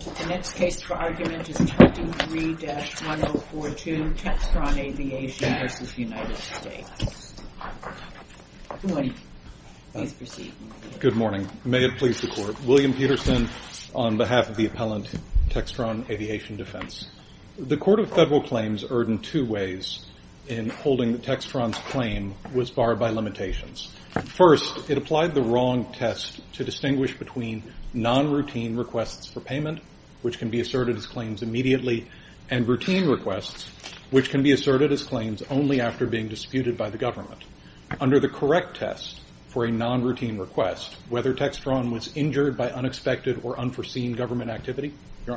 The next case for argument is 23-1042, Textron Aviation v. United States. Good morning. Please proceed. Good morning. May it please the Court. William Peterson on behalf of the appellant, Textron Aviation Defense. The Court of Federal Claims erred in two ways in holding that Textron's claim was barred by limitations. First, it applied the wrong test to distinguish between non-routine requests for payment, which can be asserted as claims immediately, and routine requests, which can be asserted as claims only after being disputed by the government. Under the correct test for a non-routine request, whether Textron was injured by unexpected or unforeseen government activity? Your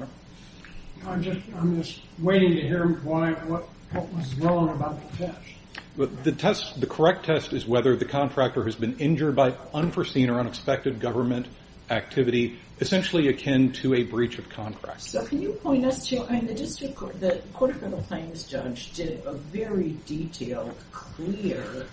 Honor. I'm just waiting to hear what was wrong about the test. The test, the correct test, is whether the contractor has been injured by unforeseen or unexpected government activity, essentially akin to a breach of contract. So can you point us to, I mean, the Court of Federal Claims judge did a very detailed, clear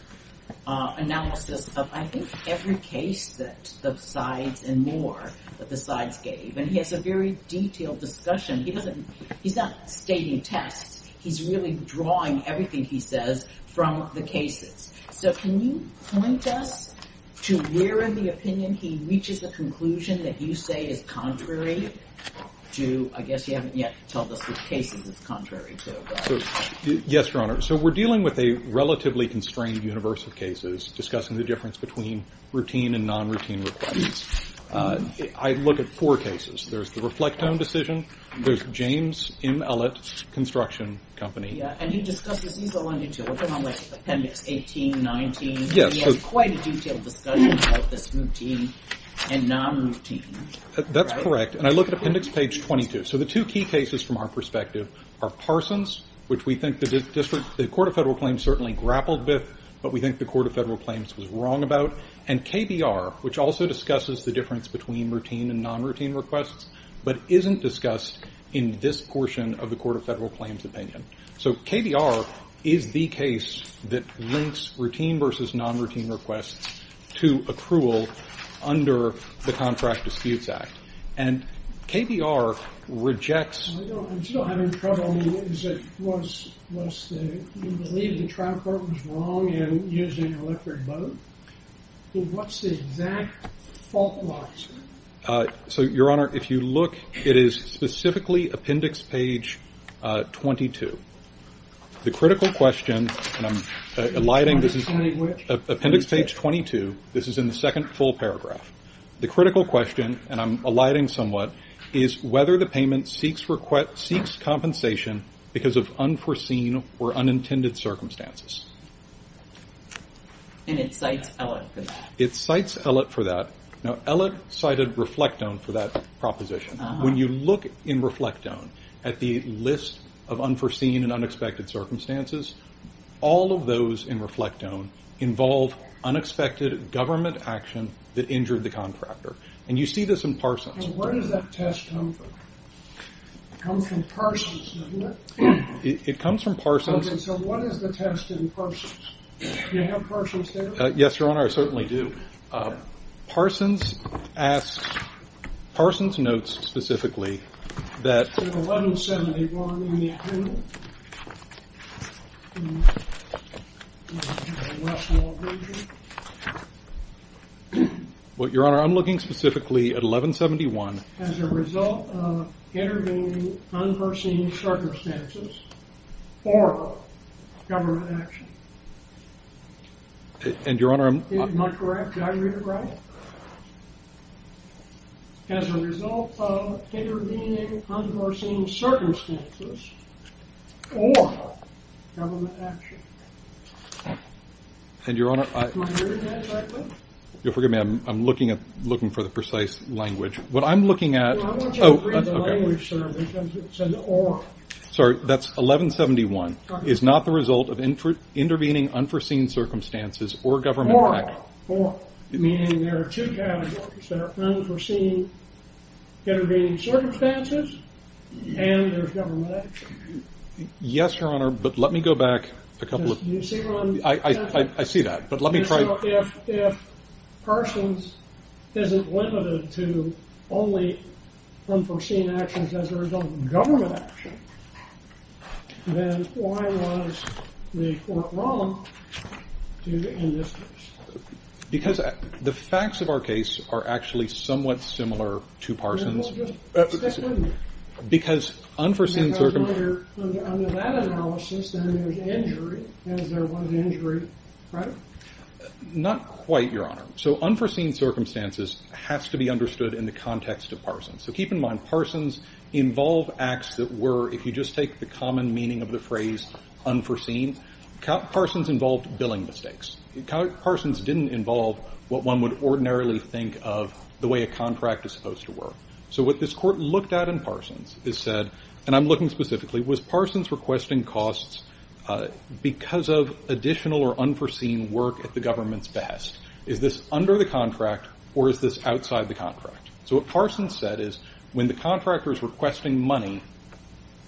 analysis of, I think, every case that the sides and more that the sides gave, and he has a very detailed discussion. He doesn't, he's not stating tests. He's really drawing everything he says from the cases. So can you point us to where in the opinion he reaches a conclusion that you say is contrary to, I guess you haven't yet told us which cases it's contrary to. Yes, Your Honor. So we're dealing with a relatively constrained universe of cases discussing the difference between routine and non-routine requests. I look at four cases. There's the Reflectome decision. There's James M. Ellett Construction Company. Yeah, and he discusses, he's the one that you're working on with Appendix 18, 19. Yes. He has quite a detailed discussion about this routine and non-routine. That's correct. And I look at Appendix page 22. So the two key cases from our perspective are Parsons, which we think the District, the Court of Federal Claims certainly grappled with, but we think the Court of Federal Claims was wrong about, and KBR, which also discusses the difference between routine and non-routine requests, but isn't discussed in this portion of the Court of Federal Claims opinion. So KBR is the case that links routine versus non-routine requests to accrual under the Contract Disputes Act. And KBR rejects. I'm still having trouble. You believe the trial court was wrong in using electric boat? What's the exact fault line? So, Your Honor, if you look, it is specifically Appendix page 22. The critical question, and I'm alighting, this is Appendix page 22. This is in the second full paragraph. The critical question, and I'm alighting somewhat, is whether the payment seeks compensation because of unforeseen or unintended circumstances. And it cites ELLIT for that. It cites ELLIT for that. Now, ELLIT cited Reflectone for that proposition. When you look in Reflectone at the list of unforeseen and unexpected circumstances, all of those in Reflectone involve unexpected government action that injured the contractor. And you see this in Parsons. And where does that test come from? It comes from Parsons, doesn't it? It comes from Parsons. Okay, so what is the test in Parsons? Do you have Parsons there? Yes, Your Honor, I certainly do. Parsons asks, Parsons notes specifically that 1171 in the agenda. Well, Your Honor, I'm looking specifically at 1171. As a result of intervening unforeseen circumstances for government action. And, Your Honor, am I correct? Did I read it right? As a result of intervening unforeseen circumstances for government action. And, Your Honor, I'm looking for the precise language. What I'm looking at is 1171 is not the result of intervening unforeseen circumstances for government action. Meaning there are two categories. There are unforeseen intervening circumstances and there's government action. Yes, Your Honor, but let me go back a couple of... Do you see what I'm... I see that, but let me try... If Parsons isn't limited to only unforeseen actions as a result of government action, then why was the court wrong to end this case? Because the facts of our case are actually somewhat similar to Parsons. Stick with me. Because unforeseen circumstances... Because under that analysis, then there's injury, as there was injury, right? Not quite, Your Honor. So unforeseen circumstances has to be understood in the context of Parsons. So keep in mind, Parsons involved acts that were, if you just take the common meaning of the phrase unforeseen, Parsons involved billing mistakes. Parsons didn't involve what one would ordinarily think of the way a contract is supposed to work. So what this court looked at in Parsons is said, and I'm looking specifically, was Parsons requesting costs because of additional or unforeseen work at the government's behest. So what Parsons said is when the contractor is requesting money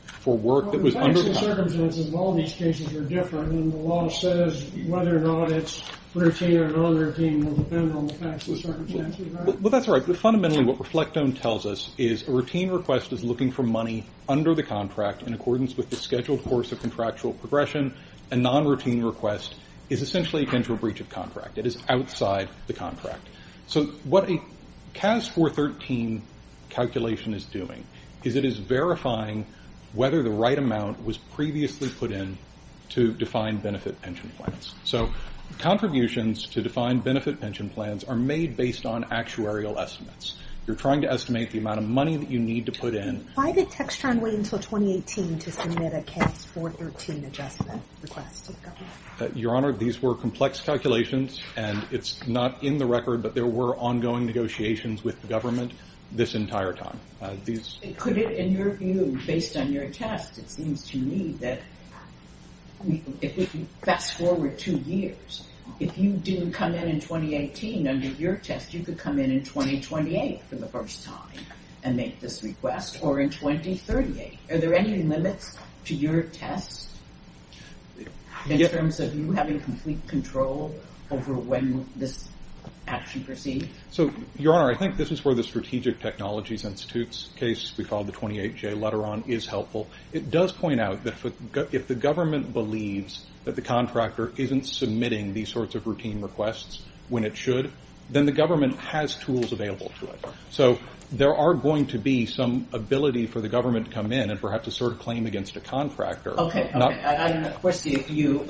for work that was under the contract... Well, the facts and circumstances of all these cases are different, and the law says whether or not it's routine or non-routine will depend on the facts and circumstances, right? Well, that's right. But fundamentally what Reflectone tells us is a routine request is looking for money under the contract in accordance with the scheduled course of contractual progression. A non-routine request is essentially akin to a breach of contract. It is outside the contract. So what a CAS 413 calculation is doing is it is verifying whether the right amount was previously put in to define benefit pension plans. So contributions to define benefit pension plans are made based on actuarial estimates. You're trying to estimate the amount of money that you need to put in. Why did Textron wait until 2018 to submit a CAS 413 adjustment request to the government? Your Honor, these were complex calculations, and it's not in the record, but there were ongoing negotiations with the government this entire time. Could it, in your view, based on your test, it seems to me that if you fast forward two years, if you didn't come in in 2018 under your test, you could come in in 2028 for the first time and make this request, or in 2038. Are there any limits to your test in terms of you having complete control over when this action proceeds? So, Your Honor, I think this is where the Strategic Technologies Institute's case we call the 28J letter on is helpful. It does point out that if the government believes that the contractor isn't submitting these sorts of routine requests when it should, then the government has tools available to it. So there are going to be some ability for the government to come in and perhaps assert a claim against a contractor. Okay. Okay. And, of course, you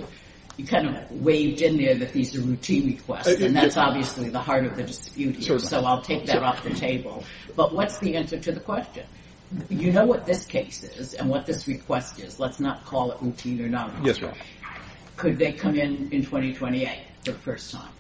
kind of waved in there that these are routine requests, and that's obviously the heart of the dispute here, so I'll take that off the table. But what's the answer to the question? You know what this case is and what this request is. Let's not call it routine or not. Yes, Your Honor. Could they come in in 2028 for the first time?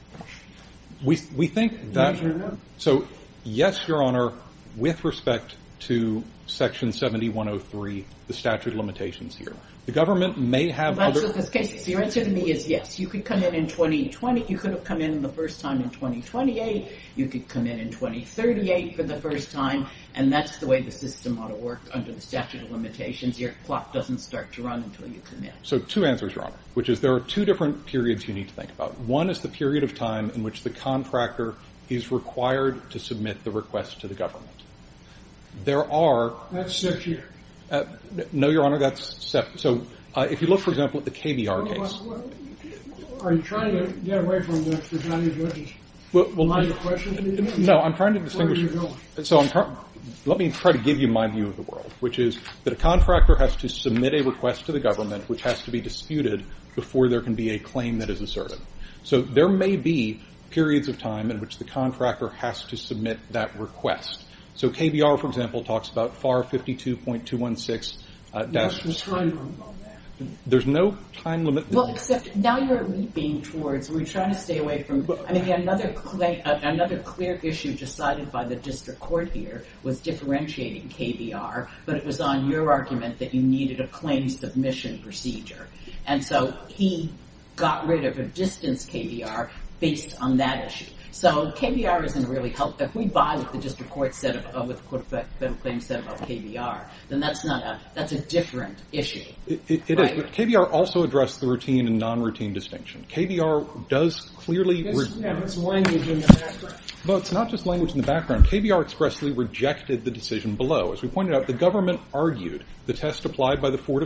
We think that... Yes or no? So, yes, Your Honor, with respect to Section 7103, the statute of limitations here. The government may have other... That's what this case is. Your answer to me is yes. You could come in in 2020. You could have come in the first time in 2028. You could come in in 2038 for the first time, and that's the way the system ought to work under the statute of limitations. Your clock doesn't start to run until you come in. So two answers, Your Honor, which is there are two different periods you need to think about. One is the period of time in which the contractor is required to submit the request to the government. There are... That's six years. No, Your Honor, that's seven. So if you look, for example, at the KBR case... Are you trying to get away from the Johnny Goodrich line of questioning? No, I'm trying to distinguish... Where are you going? So let me try to give you my view of the world, which is that a contractor has to submit a request to the government which has to be disputed before there can be a claim that is asserted. So there may be periods of time in which the contractor has to submit that request. So KBR, for example, talks about FAR 52.216. There's no time limit on that. There's no time limit. Well, except now you're leaping towards... We're trying to stay away from... I mean, another clear issue decided by the district court here was differentiating KBR, but it was on your argument that you needed a claim submission procedure. And so he got rid of a distance KBR based on that issue. So KBR isn't really helpful. If we buy what the district court said about KBR, then that's a different issue. It is, but KBR also addressed the routine and non-routine distinction. KBR does clearly... There's language in the background. Well, it's not just language in the background. KBR expressly rejected the decision below. As we pointed out, the government argued the test applied by the Court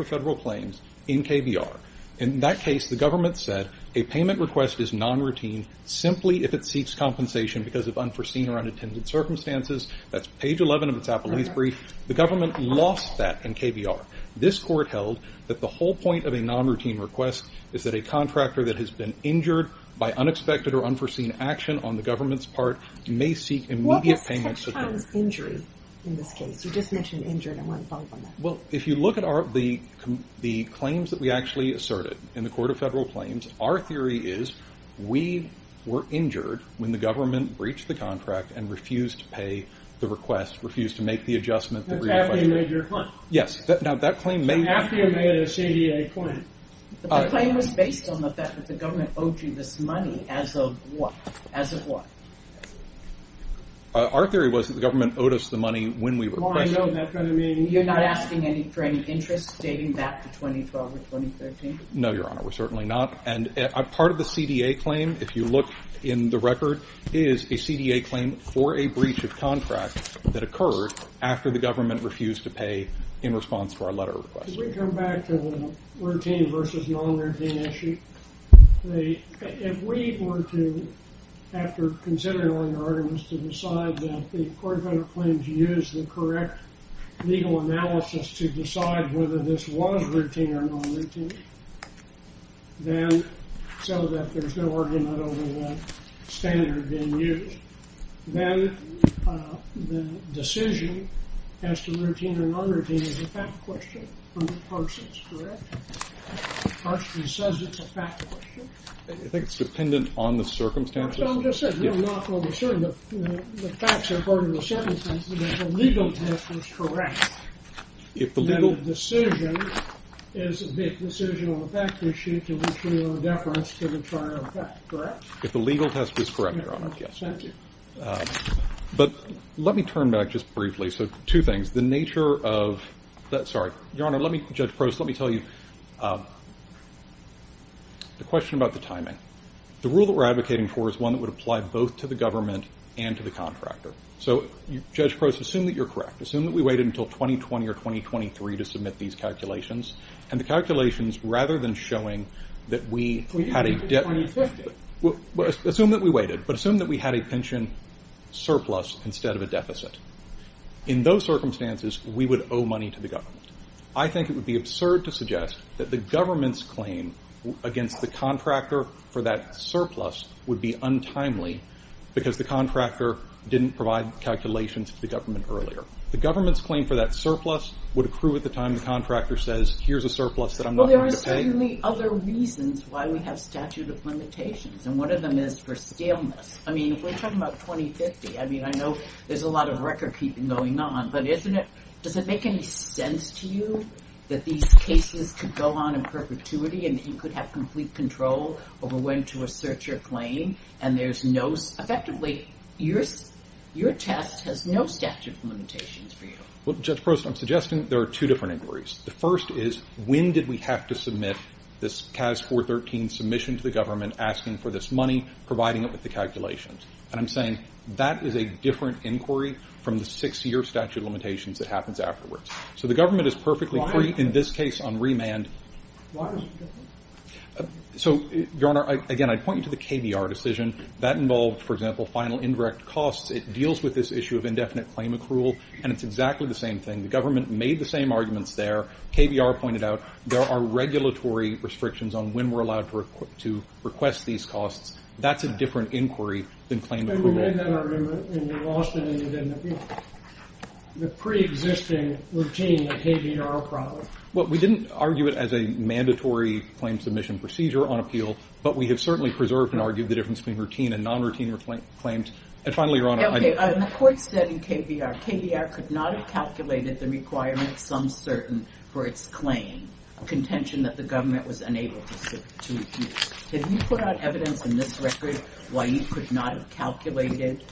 of Federal Claims in KBR. In that case, the government said a payment request is non-routine simply if it seeks compensation because of unforeseen or unattended circumstances. That's page 11 of its appellee's brief. The government lost that in KBR. This court held that the whole point of a non-routine request is that a contractor that has been injured by unexpected or unforeseen action on the government's part may seek immediate payment support. What was injury in this case? You just mentioned injured. I want to follow up on that. Well, if you look at the claims that we actually asserted in the Court of Federal Claims, our theory is we were injured when the government breached the contract and refused to pay the request, refused to make the adjustment that we requested. That's after you made your claim. Yes. Now, that claim may... After you made a CDA claim. The claim was based on the fact that the government owed you this money as of what? Our theory was that the government owed us the money when we requested it. You're not asking for any interest dating back to 2012 or 2013? No, Your Honor. We're certainly not. And part of the CDA claim, if you look in the record, is a CDA claim for a breach of contract that occurred after the government refused to pay in response to our letter request. Could we come back to the routine versus non-routine issue? If we were to, after considering all your arguments, to decide that the Court of Federal Claims used the correct legal analysis to decide whether this was routine or non-routine, so that there's no argument over what standard being used, then the decision as to routine or non-routine is a fact question from the Parsons, correct? Parsons says it's a fact question. You think it's dependent on the circumstances? No, I'm just saying, we're not totally certain. The facts are part of the circumstances, but if the legal test was correct, then the decision is a big decision on the fact issue to which we owe deference to the trial fact, correct? If the legal test was correct, Your Honor, yes. Thank you. But let me turn back just briefly. So, two things. The nature of... Your Honor, Judge Prost, let me tell you a question about the timing. The rule that we're advocating for is one that would apply both to the government and to the contractor. So, Judge Prost, assume that you're correct. Assume that we waited until 2020 or 2023 to submit these calculations, and the calculations, rather than showing that we had a... We waited until 2050. Assume that we waited, but assume that we had a pension surplus instead of a deficit. In those circumstances, we would owe money to the government. I think it would be absurd to suggest that the government's claim against the contractor for that surplus would be untimely because the contractor didn't provide calculations to the government earlier. The government's claim for that surplus would accrue at the time the contractor says, here's a surplus that I'm not going to pay. Well, there are certainly other reasons why we have statute of limitations, and one of them is for scaleness. I mean, if we're talking about 2050, I mean, I know there's a lot of record-keeping going on, but doesn't it make any sense to you that these cases could go on in perpetuity and that you could have complete control over when to assert your claim, and there's no... Effectively, your test has no statute of limitations for you. Well, Judge Prost, I'm suggesting there are two different inquiries. The first is, when did we have to submit this CAS 413 submission to the government asking for this money, providing it with the calculations? And I'm saying that is a different inquiry from the six-year statute of limitations that happens afterwards. So the government is perfectly free in this case on remand. Why is it different? So, Your Honor, again, I'd point you to the KBR decision. That involved, for example, final indirect costs. It deals with this issue of indefinite claim accrual, and it's exactly the same thing. The government made the same arguments there. KBR pointed out there are regulatory restrictions on when we're allowed to request these costs. That's a different inquiry than claim approval. And you made that argument, and you lost it, and you didn't appeal it. The preexisting routine of KBR probably. Well, we didn't argue it as a mandatory claim submission procedure on appeal, but we have certainly preserved and argued the difference between routine and non-routine claims. And finally, Your Honor, I... Okay, in the court study KBR, KBR could not have calculated the requirement of some certain for its claim, a contention that the government was unable to use. Did you put out evidence in this record why you could not have calculated,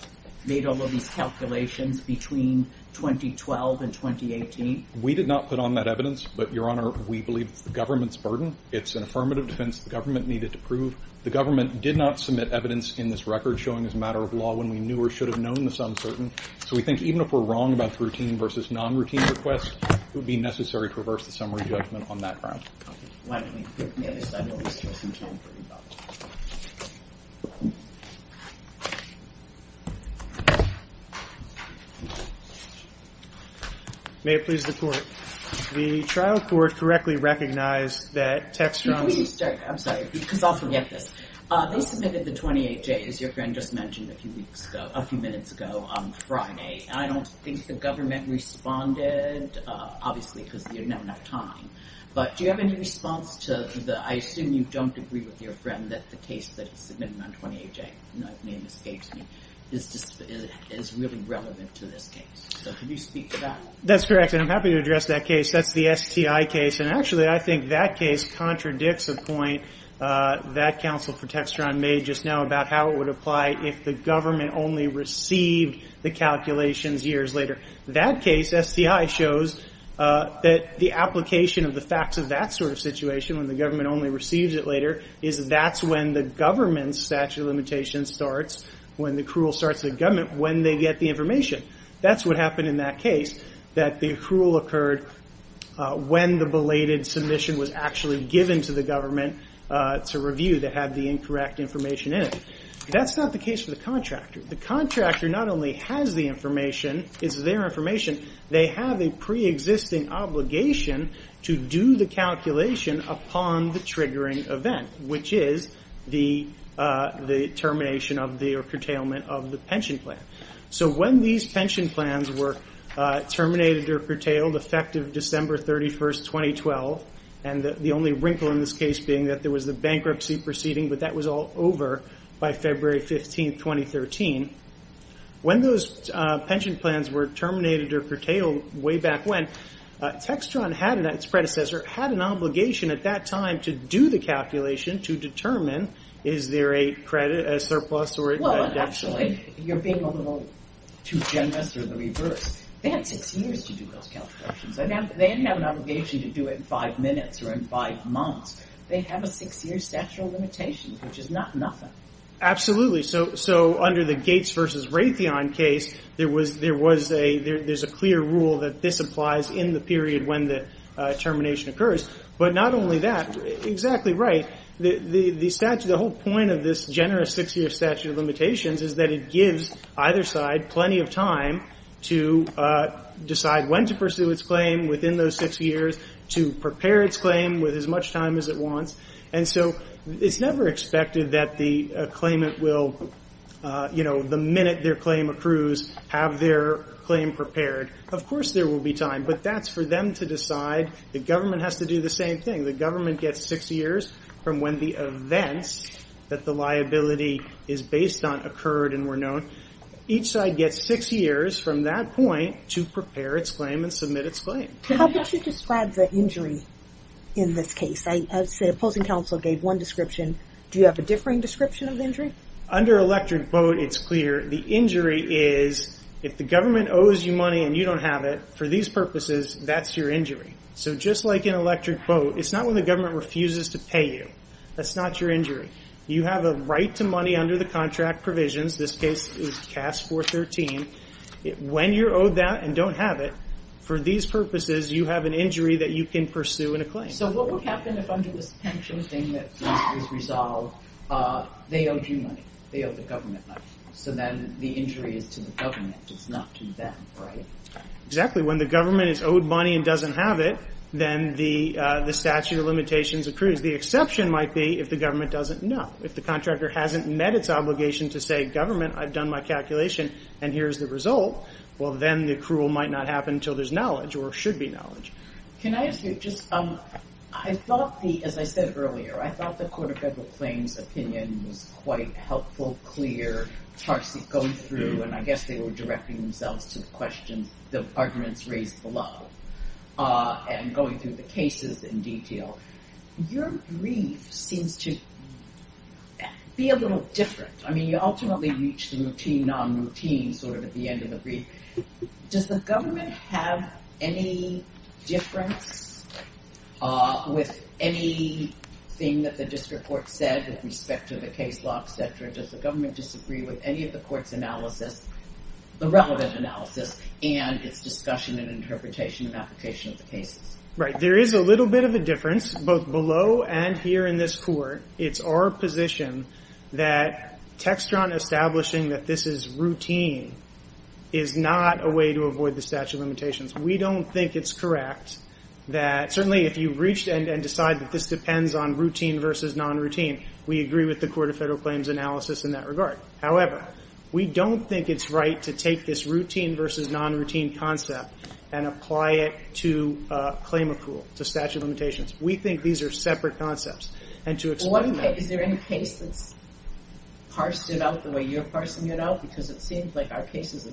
made all of these calculations between 2012 and 2018? We did not put on that evidence, but, Your Honor, we believe it's the government's burden. It's an affirmative defense the government needed to prove. The government did not submit evidence in this record showing as a matter of law when we knew or should have known this uncertain. So we think even if we're wrong about the routine versus non-routine request, it would be necessary to reverse the summary judgment on that ground. Okay. May it please the court. The trial court correctly recognized that text... Could we just start? I'm sorry, because I'll forget this. They submitted the 28J, as your friend just mentioned, a few minutes ago on Friday, and I don't think the government responded, obviously because they didn't have enough time. But do you have any response to the... I assume you don't agree with your friend that the case that he submitted on 28J, if my name escapes me, is really relevant to this case. So could you speak to that? That's correct, and I'm happy to address that case. That's the STI case, and actually I think that case contradicts a point that counsel for Textron made just now about how it would apply if the government only received the calculations years later. That case, STI shows, that the application of the facts of that sort of situation, when the government only receives it later, is that's when the government's statute of limitations starts, when the accrual starts in the government, when they get the information. That's what happened in that case, that the accrual occurred when the belated submission was actually given to the government to review that had the incorrect information in it. That's not the case for the contractor. The contractor not only has the information, it's their information, they have a preexisting obligation to do the calculation upon the triggering event, which is the termination or curtailment of the pension plan. So when these pension plans were terminated or curtailed, effective December 31, 2012, and the only wrinkle in this case being that there was a bankruptcy proceeding, but that was all over by February 15, 2013, when those pension plans were terminated or curtailed way back when, Textron had, its predecessor, had an obligation at that time to do the calculation to determine is there a surplus or a deficit. Well, actually, you're being a little too generous or the reverse. They had six years to do those calculations. They didn't have an obligation to do it in five minutes or in five months. They have a six-year statute of limitations, which is not nothing. Absolutely. So under the Gates v. Raytheon case, there's a clear rule that this applies in the period when the termination occurs. But not only that, exactly right, the whole point of this generous six-year statute of limitations is that it gives either side plenty of time to decide when to pursue its claim within those six years, to prepare its claim with as much time as it wants. And so it's never expected that the claimant will, you know, the minute their claim accrues, have their claim prepared. Of course there will be time, but that's for them to decide. The government has to do the same thing. The government gets six years from when the events that the liability is based on occurred and were known. Each side gets six years from that point to prepare its claim and submit its claim. How would you describe the injury in this case? The opposing counsel gave one description. Do you have a differing description of the injury? Under electric boat, it's clear. The injury is if the government owes you money and you don't have it, for these purposes, that's your injury. So just like in electric boat, it's not when the government refuses to pay you. That's not your injury. You have a right to money under the contract provisions. This case is CAS 413. When you're owed that and don't have it, for these purposes, you have an injury that you can pursue in a claim. So what would happen if under this pension thing that was resolved, they owed you money? They owed the government money. So then the injury is to the government. It's not to them, right? Exactly. When the government is owed money and doesn't have it, then the statute of limitations accrues. The exception might be if the government doesn't know. If the contractor hasn't met its obligation to say, government, I've done my calculation and here's the result, well, then the accrual might not happen until there's knowledge or should be knowledge. Can I ask you just, I thought the, as I said earlier, I thought the Court of Federal Claims' opinion was quite helpful, clear, Tarsy going through, and I guess they were directing themselves to the questions, the arguments raised below, and going through the cases in detail. Your brief seems to be a little different. I mean, you ultimately reach the routine, non-routine sort of at the end of the brief. Does the government have any difference with anything that the district court said with respect to the case law, et cetera? Does the government disagree with any of the court's analysis, the relevant analysis, and its discussion and interpretation and application of the cases? Right. There is a little bit of a difference, both below and here in this court. It's our position that Textron establishing that this is routine is not a way to avoid the statute of limitations. We don't think it's correct that, certainly, if you reach and decide that this depends on routine versus non-routine, we agree with the Court of Federal Claims' analysis in that regard. However, we don't think it's right to take this routine versus non-routine concept and apply it to claim accrual, to statute of limitations. We think these are separate concepts. And to explain that. Is there any case that's parsed it out the way you're parsing it out? Because it seems like our cases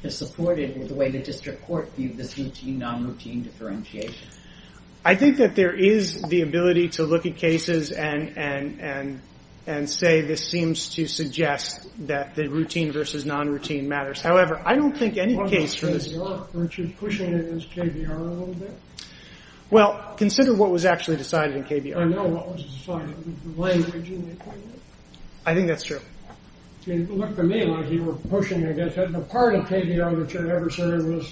have supported the way the district court viewed this routine, non-routine differentiation. I think that there is the ability to look at cases and say this seems to suggest that the routine versus non-routine matters. However, I don't think any case for this. Aren't you pushing it against KBR a little bit? Well, consider what was actually decided in KBR. I know what was decided. The way Virginia did it. I think that's true. It looked to me like you were pushing it. The part of KBR that you're adversarial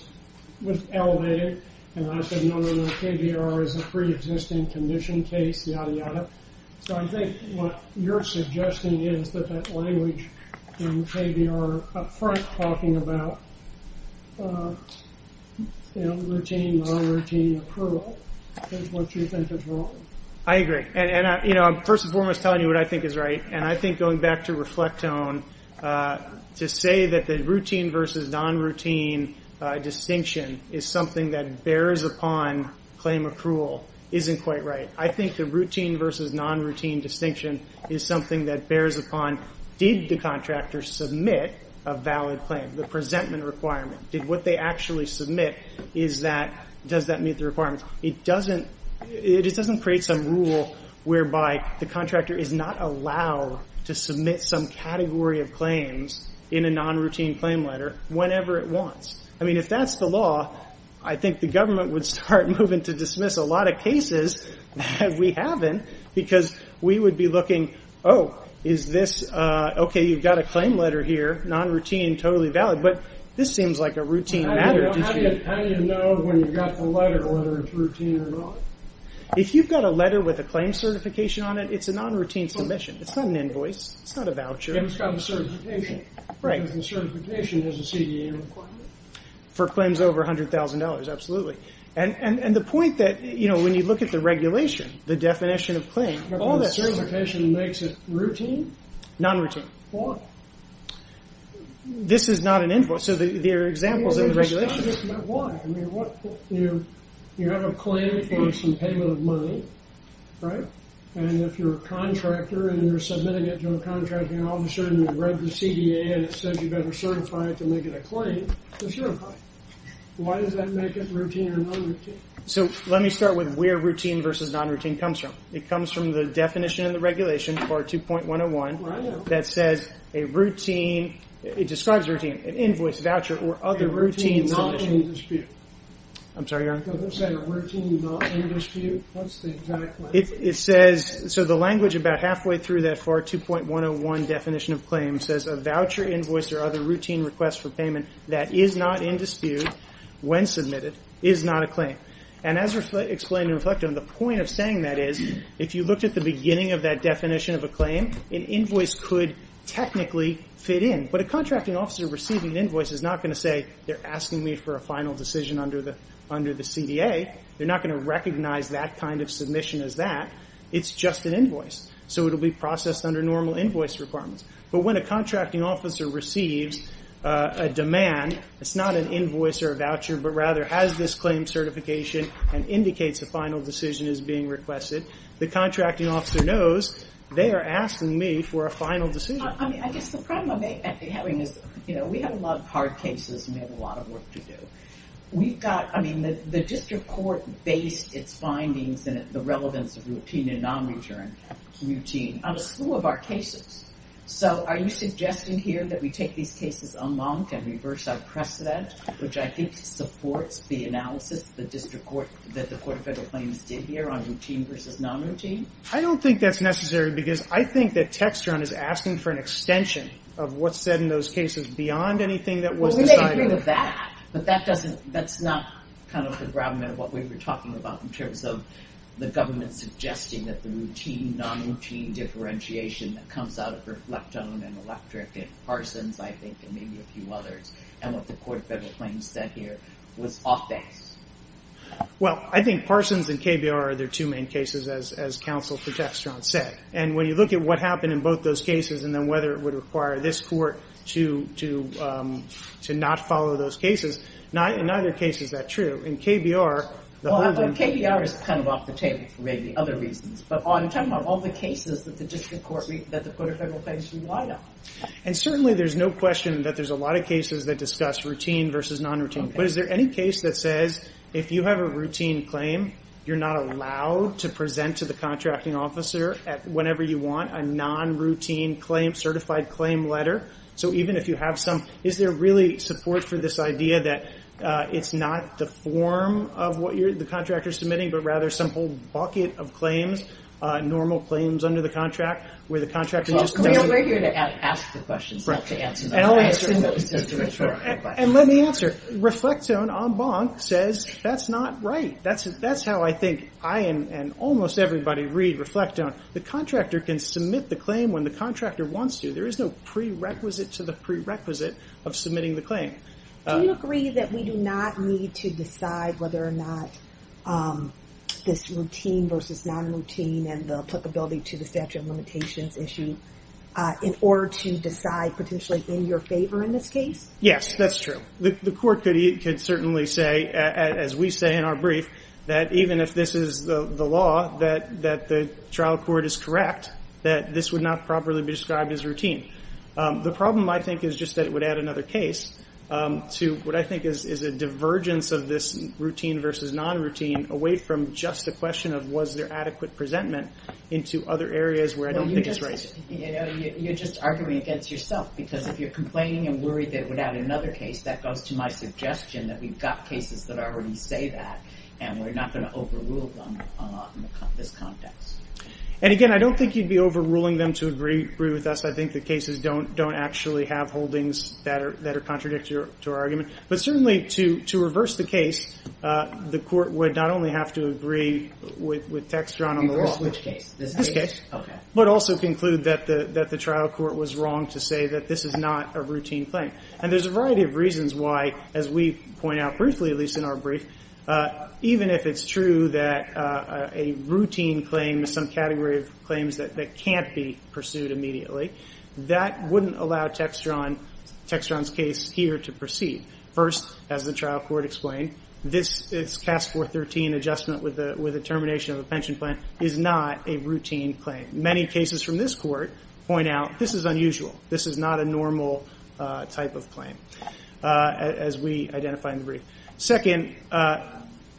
was elevated. And I said, no, no, no. KBR is a pre-existing condition case, yada, yada. So I think what you're suggesting is that that language in KBR up front talking about routine, non-routine, accrual is what you think is wrong. I agree. And first and foremost, telling you what I think is right. And I think going back to Reflectone, to say that the routine versus non-routine distinction is something that bears upon claim accrual isn't quite right. I think the routine versus non-routine distinction is something that bears upon did the contractor submit a valid claim, the presentment requirement. Did what they actually submit is that, It doesn't create some rule whereby the contractor is not allowed to submit some category of claims in a non-routine claim letter whenever it wants. I mean, if that's the law, I think the government would start moving to dismiss a lot of cases that we haven't because we would be looking, oh, is this, okay, you've got a claim letter here, non-routine, totally valid. But this seems like a routine matter. How do you know when you've got the letter, whether it's routine or not? If you've got a letter with a claim certification on it, it's a non-routine submission. It's not an invoice. It's not a voucher. It's got a certification. Right. Because the certification has a CDA requirement. For claims over $100,000, absolutely. And the point that, you know, when you look at the regulation, the definition of claim, all that certification makes it routine? Non-routine. Why? This is not an invoice. So there are examples in the regulation. Why? I mean, you have a claim for some payment of money, right? And if you're a contractor and you're submitting it to a contracting officer and you've read the CDA and it says you've got to certify it to make it a claim, it's your claim. Why does that make it routine or non-routine? So let me start with where routine versus non-routine comes from. It comes from the definition in the regulation, part 2.101, that says a routine, it describes routine, an invoice, voucher, or other routine submission. A routine, not in dispute. I'm sorry, your honor? They're saying a routine, not in dispute. That's the exact way. So the language about halfway through that part 2.101 definition of claim says, a voucher, invoice, or other routine request for payment that is not in dispute when submitted is not a claim. And as explained in Reflecto, the point of saying that is, if you looked at the beginning of that definition of a claim, an invoice could technically fit in. But a contracting officer receiving an invoice is not going to say, they're asking me for a final decision under the CDA. They're not going to recognize that kind of submission as that. It's just an invoice. So it will be processed under normal invoice requirements. But when a contracting officer receives a demand, it's not an invoice or a voucher, but rather has this claim certification and indicates a final decision is being requested, the contracting officer knows they are asking me for a final decision. I mean, I guess the problem I'm having is, you know, we have a lot of hard cases and we have a lot of work to do. We've got, I mean, the district court based its findings and the relevance of routine and non-return routine on a slew of our cases. So are you suggesting here that we take these cases unmarked and reverse our precedent, which I think supports the analysis that the District Court, that the Court of Federal Claims did here on routine versus non-routine? I don't think that's necessary because I think that Textron is asking for an extension of what's said in those cases beyond anything that was decided. I agree with that, but that doesn't, that's not kind of the gravamen of what we were talking about in terms of the government suggesting that the routine, non-routine differentiation that comes out of Reflectone and Electric and Parsons, I think, and maybe a few others, and what the Court of Federal Claims said here was offense. Well, I think Parsons and KBR are their two main cases, as counsel for Textron said. And when you look at what happened in both those cases and then whether it would require this court to not follow those cases, in neither case is that true. In KBR, the whole thing... Well, KBR is kind of off the table for maybe other reasons, but I'm talking about all the cases that the Court of Federal Claims relied on. And certainly there's no question that there's a lot of cases that discuss routine versus non-routine, but is there any case that says if you have a routine claim, you're not allowed to present to the contracting officer whenever you want a non-routine claim, so even if you have some, is there really support for this idea that it's not the form of what the contractor is submitting, but rather some whole bucket of claims, normal claims under the contract, where the contractor just doesn't... Well, we're here to ask the questions, not to answer them. And let me answer. Reflectone en banc says that's not right. That's how I think I and almost everybody read Reflectone. The contractor can submit the claim when the contractor wants to. There is no prerequisite to the prerequisite of submitting the claim. Do you agree that we do not need to decide whether or not this routine versus non-routine and the applicability to the statute of limitations issue in order to decide potentially in your favor in this case? Yes, that's true. The court could certainly say, as we say in our brief, that even if this is the law, that the trial court is correct, that this would not properly be described as routine. The problem, I think, is just that it would add another case to what I think is a divergence of this routine versus non-routine away from just the question of was there adequate presentment into other areas where I don't think it's right. You're just arguing against yourself because if you're complaining and worried that it would add another case, that goes to my suggestion that we've got cases that already say that and we're not going to overrule them in this context. And again, I don't think you'd be overruling them to agree with us. I think the cases don't actually have holdings that are contradictory to our argument. But certainly, to reverse the case, the court would not only have to agree with text drawn on the law, which is this case, but also conclude that the trial court was wrong to say that this is not a routine claim. And there's a variety of reasons why, as we point out briefly, at least in our brief, even if it's true that a routine claim is some category of claims that can't be pursued immediately, that wouldn't allow Textron's case here to proceed. First, as the trial court explained, this CAS 413 adjustment with the termination of a pension plan is not a routine claim. Many cases from this court point out this is unusual. as we identify in the brief. Second,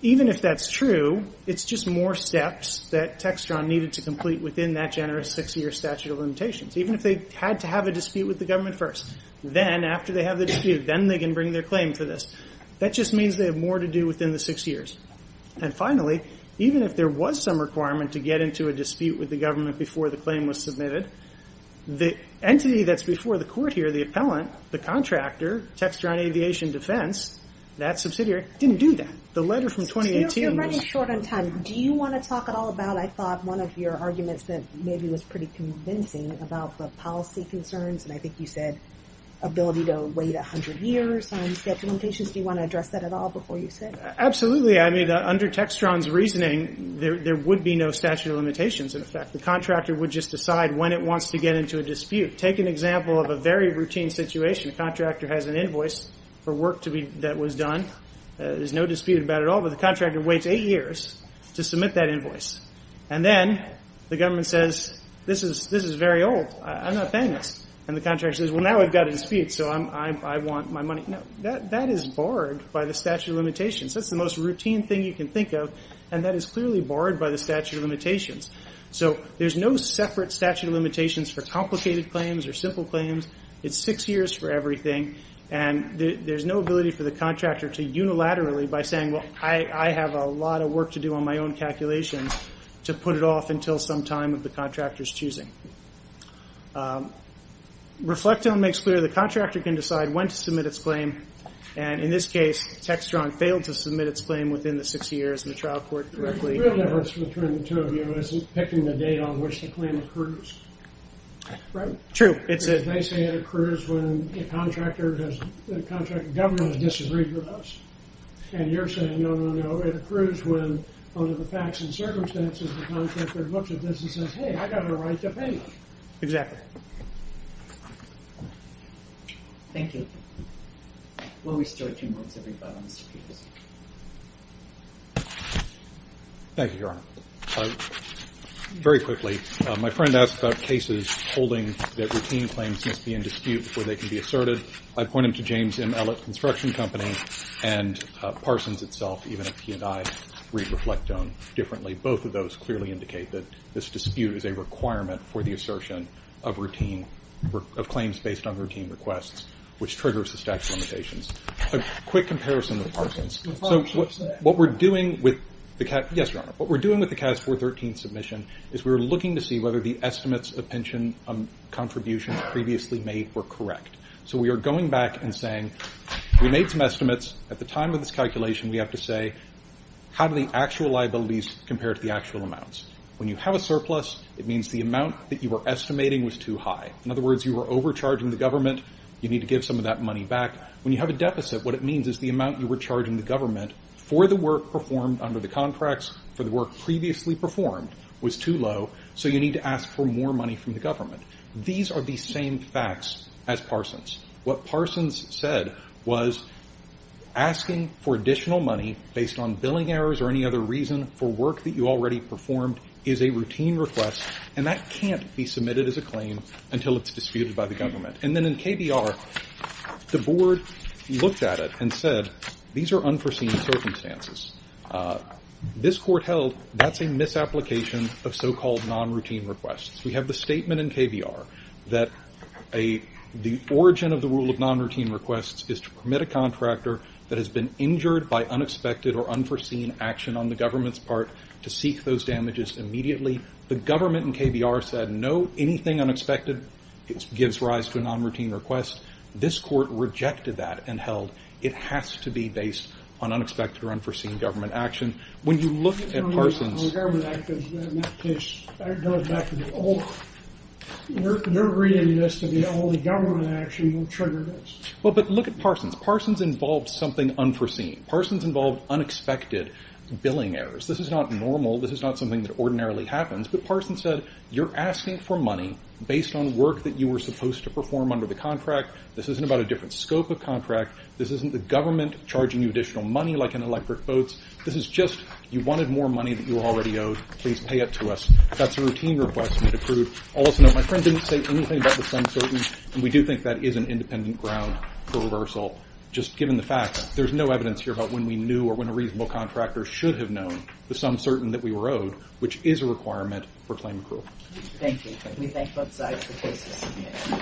even if that's true, it's just more steps that Textron needed to complete within that generous six-year statute of limitations. Even if they had to have a dispute with the government first, then, after they have the dispute, then they can bring their claim to this. That just means they have more to do within the six years. And finally, even if there was some requirement to get into a dispute with the government before the claim was submitted, the entity that's before the court here, the appellant, the contractor, Textron Aviation Defense, that subsidiary, didn't do that. The letter from 2018... So you're running short on time. Do you want to talk at all about, I thought, one of your arguments that maybe was pretty convincing about the policy concerns, and I think you said ability to wait 100 years on statute of limitations. Do you want to address that at all before you sit? Absolutely. I mean, under Textron's reasoning, there would be no statute of limitations in effect. The contractor would just decide when it wants to get into a dispute. Take an example of a very routine situation. A contractor has an invoice for work that was done. There's no dispute about it at all, but the contractor waits eight years to submit that invoice. And then the government says, this is very old, I'm not paying this. And the contractor says, well, now we've got a dispute, so I want my money. No, that is barred by the statute of limitations. That's the most routine thing you can think of, and that is clearly barred by the statute of limitations. So there's no separate statute of limitations for complicated claims or simple claims. It's six years for everything, and there's no ability for the contractor to unilaterally, by saying, well, I have a lot of work to do on my own calculations, to put it off until some time of the contractor's choosing. Reflecton makes clear the contractor can decide when to submit its claim, and in this case, Textron failed to submit its claim within the six years in the trial court directly. The real difference between the two of you is picking the date on which the claim occurs. Right? True. They say it occurs when the government has disagreed with us, and you're saying, no, no, no. It occurs when, under the facts and circumstances, the contractor looks at this and says, hey, I've got a right to pay you. Exactly. Thank you. We'll restart two minutes every five minutes. Thank you, Your Honor. Very quickly, my friend asked about cases holding that routine claims must be in dispute before they can be asserted. I point him to James M. Ellett Construction Company and Parsons itself, even if he and I read Reflecton differently. Both of those clearly indicate that this dispute is a requirement for the assertion of claims based on routine requests, which triggers the statute of limitations. A quick comparison with Parsons. Yes, Your Honor. What we're doing with the CAS 413 submission is we're looking to see whether the estimates of pension contributions previously made were correct. So we are going back and saying, we made some estimates. At the time of this calculation, we have to say, how do the actual liabilities compare to the actual amounts? When you have a surplus, it means the amount that you were estimating was too high. In other words, you were overcharging the government. You need to give some of that money back. When you have a deficit, what it means is the amount you were charging the government for the work performed under the contracts for the work previously performed was too low, so you need to ask for more money from the government. These are the same facts as Parsons. What Parsons said was asking for additional money based on billing errors or any other reason for work that you already performed is a routine request, and that can't be submitted as a claim until it's disputed by the government. And then in KBR, the board looked at it and said, these are unforeseen circumstances. This court held that's a misapplication of so-called non-routine requests. We have the statement in KBR that the origin of the rule of non-routine requests is to permit a contractor that has been injured by unexpected or unforeseen action on the government's part to seek those damages immediately. The government in KBR said no, anything unexpected gives rise to a non-routine request. This court rejected that and held that it has to be based on unexpected or unforeseen government action. When you look at Parsons... Well, but look at Parsons. Parsons involved something unforeseen. Parsons involved unexpected billing errors. This is not normal. This is not something that ordinarily happens. But Parsons said, you're asking for money based on work that you were supposed to perform under the contract. This isn't about a different scope of contract. This isn't the government charging you additional money like an electric boat. This is just, you wanted more money that you were already owed. Please pay it to us. That's a routine request we'd approve. Also note, my friend didn't say anything about the sum certain, and we do think that is an independent ground for reversal, just given the fact that there's no evidence here about when we knew or when a reasonable contractor should have known the sum certain that we were owed, which is a requirement for claim approval. Thank you. We thank both sides for their testimony.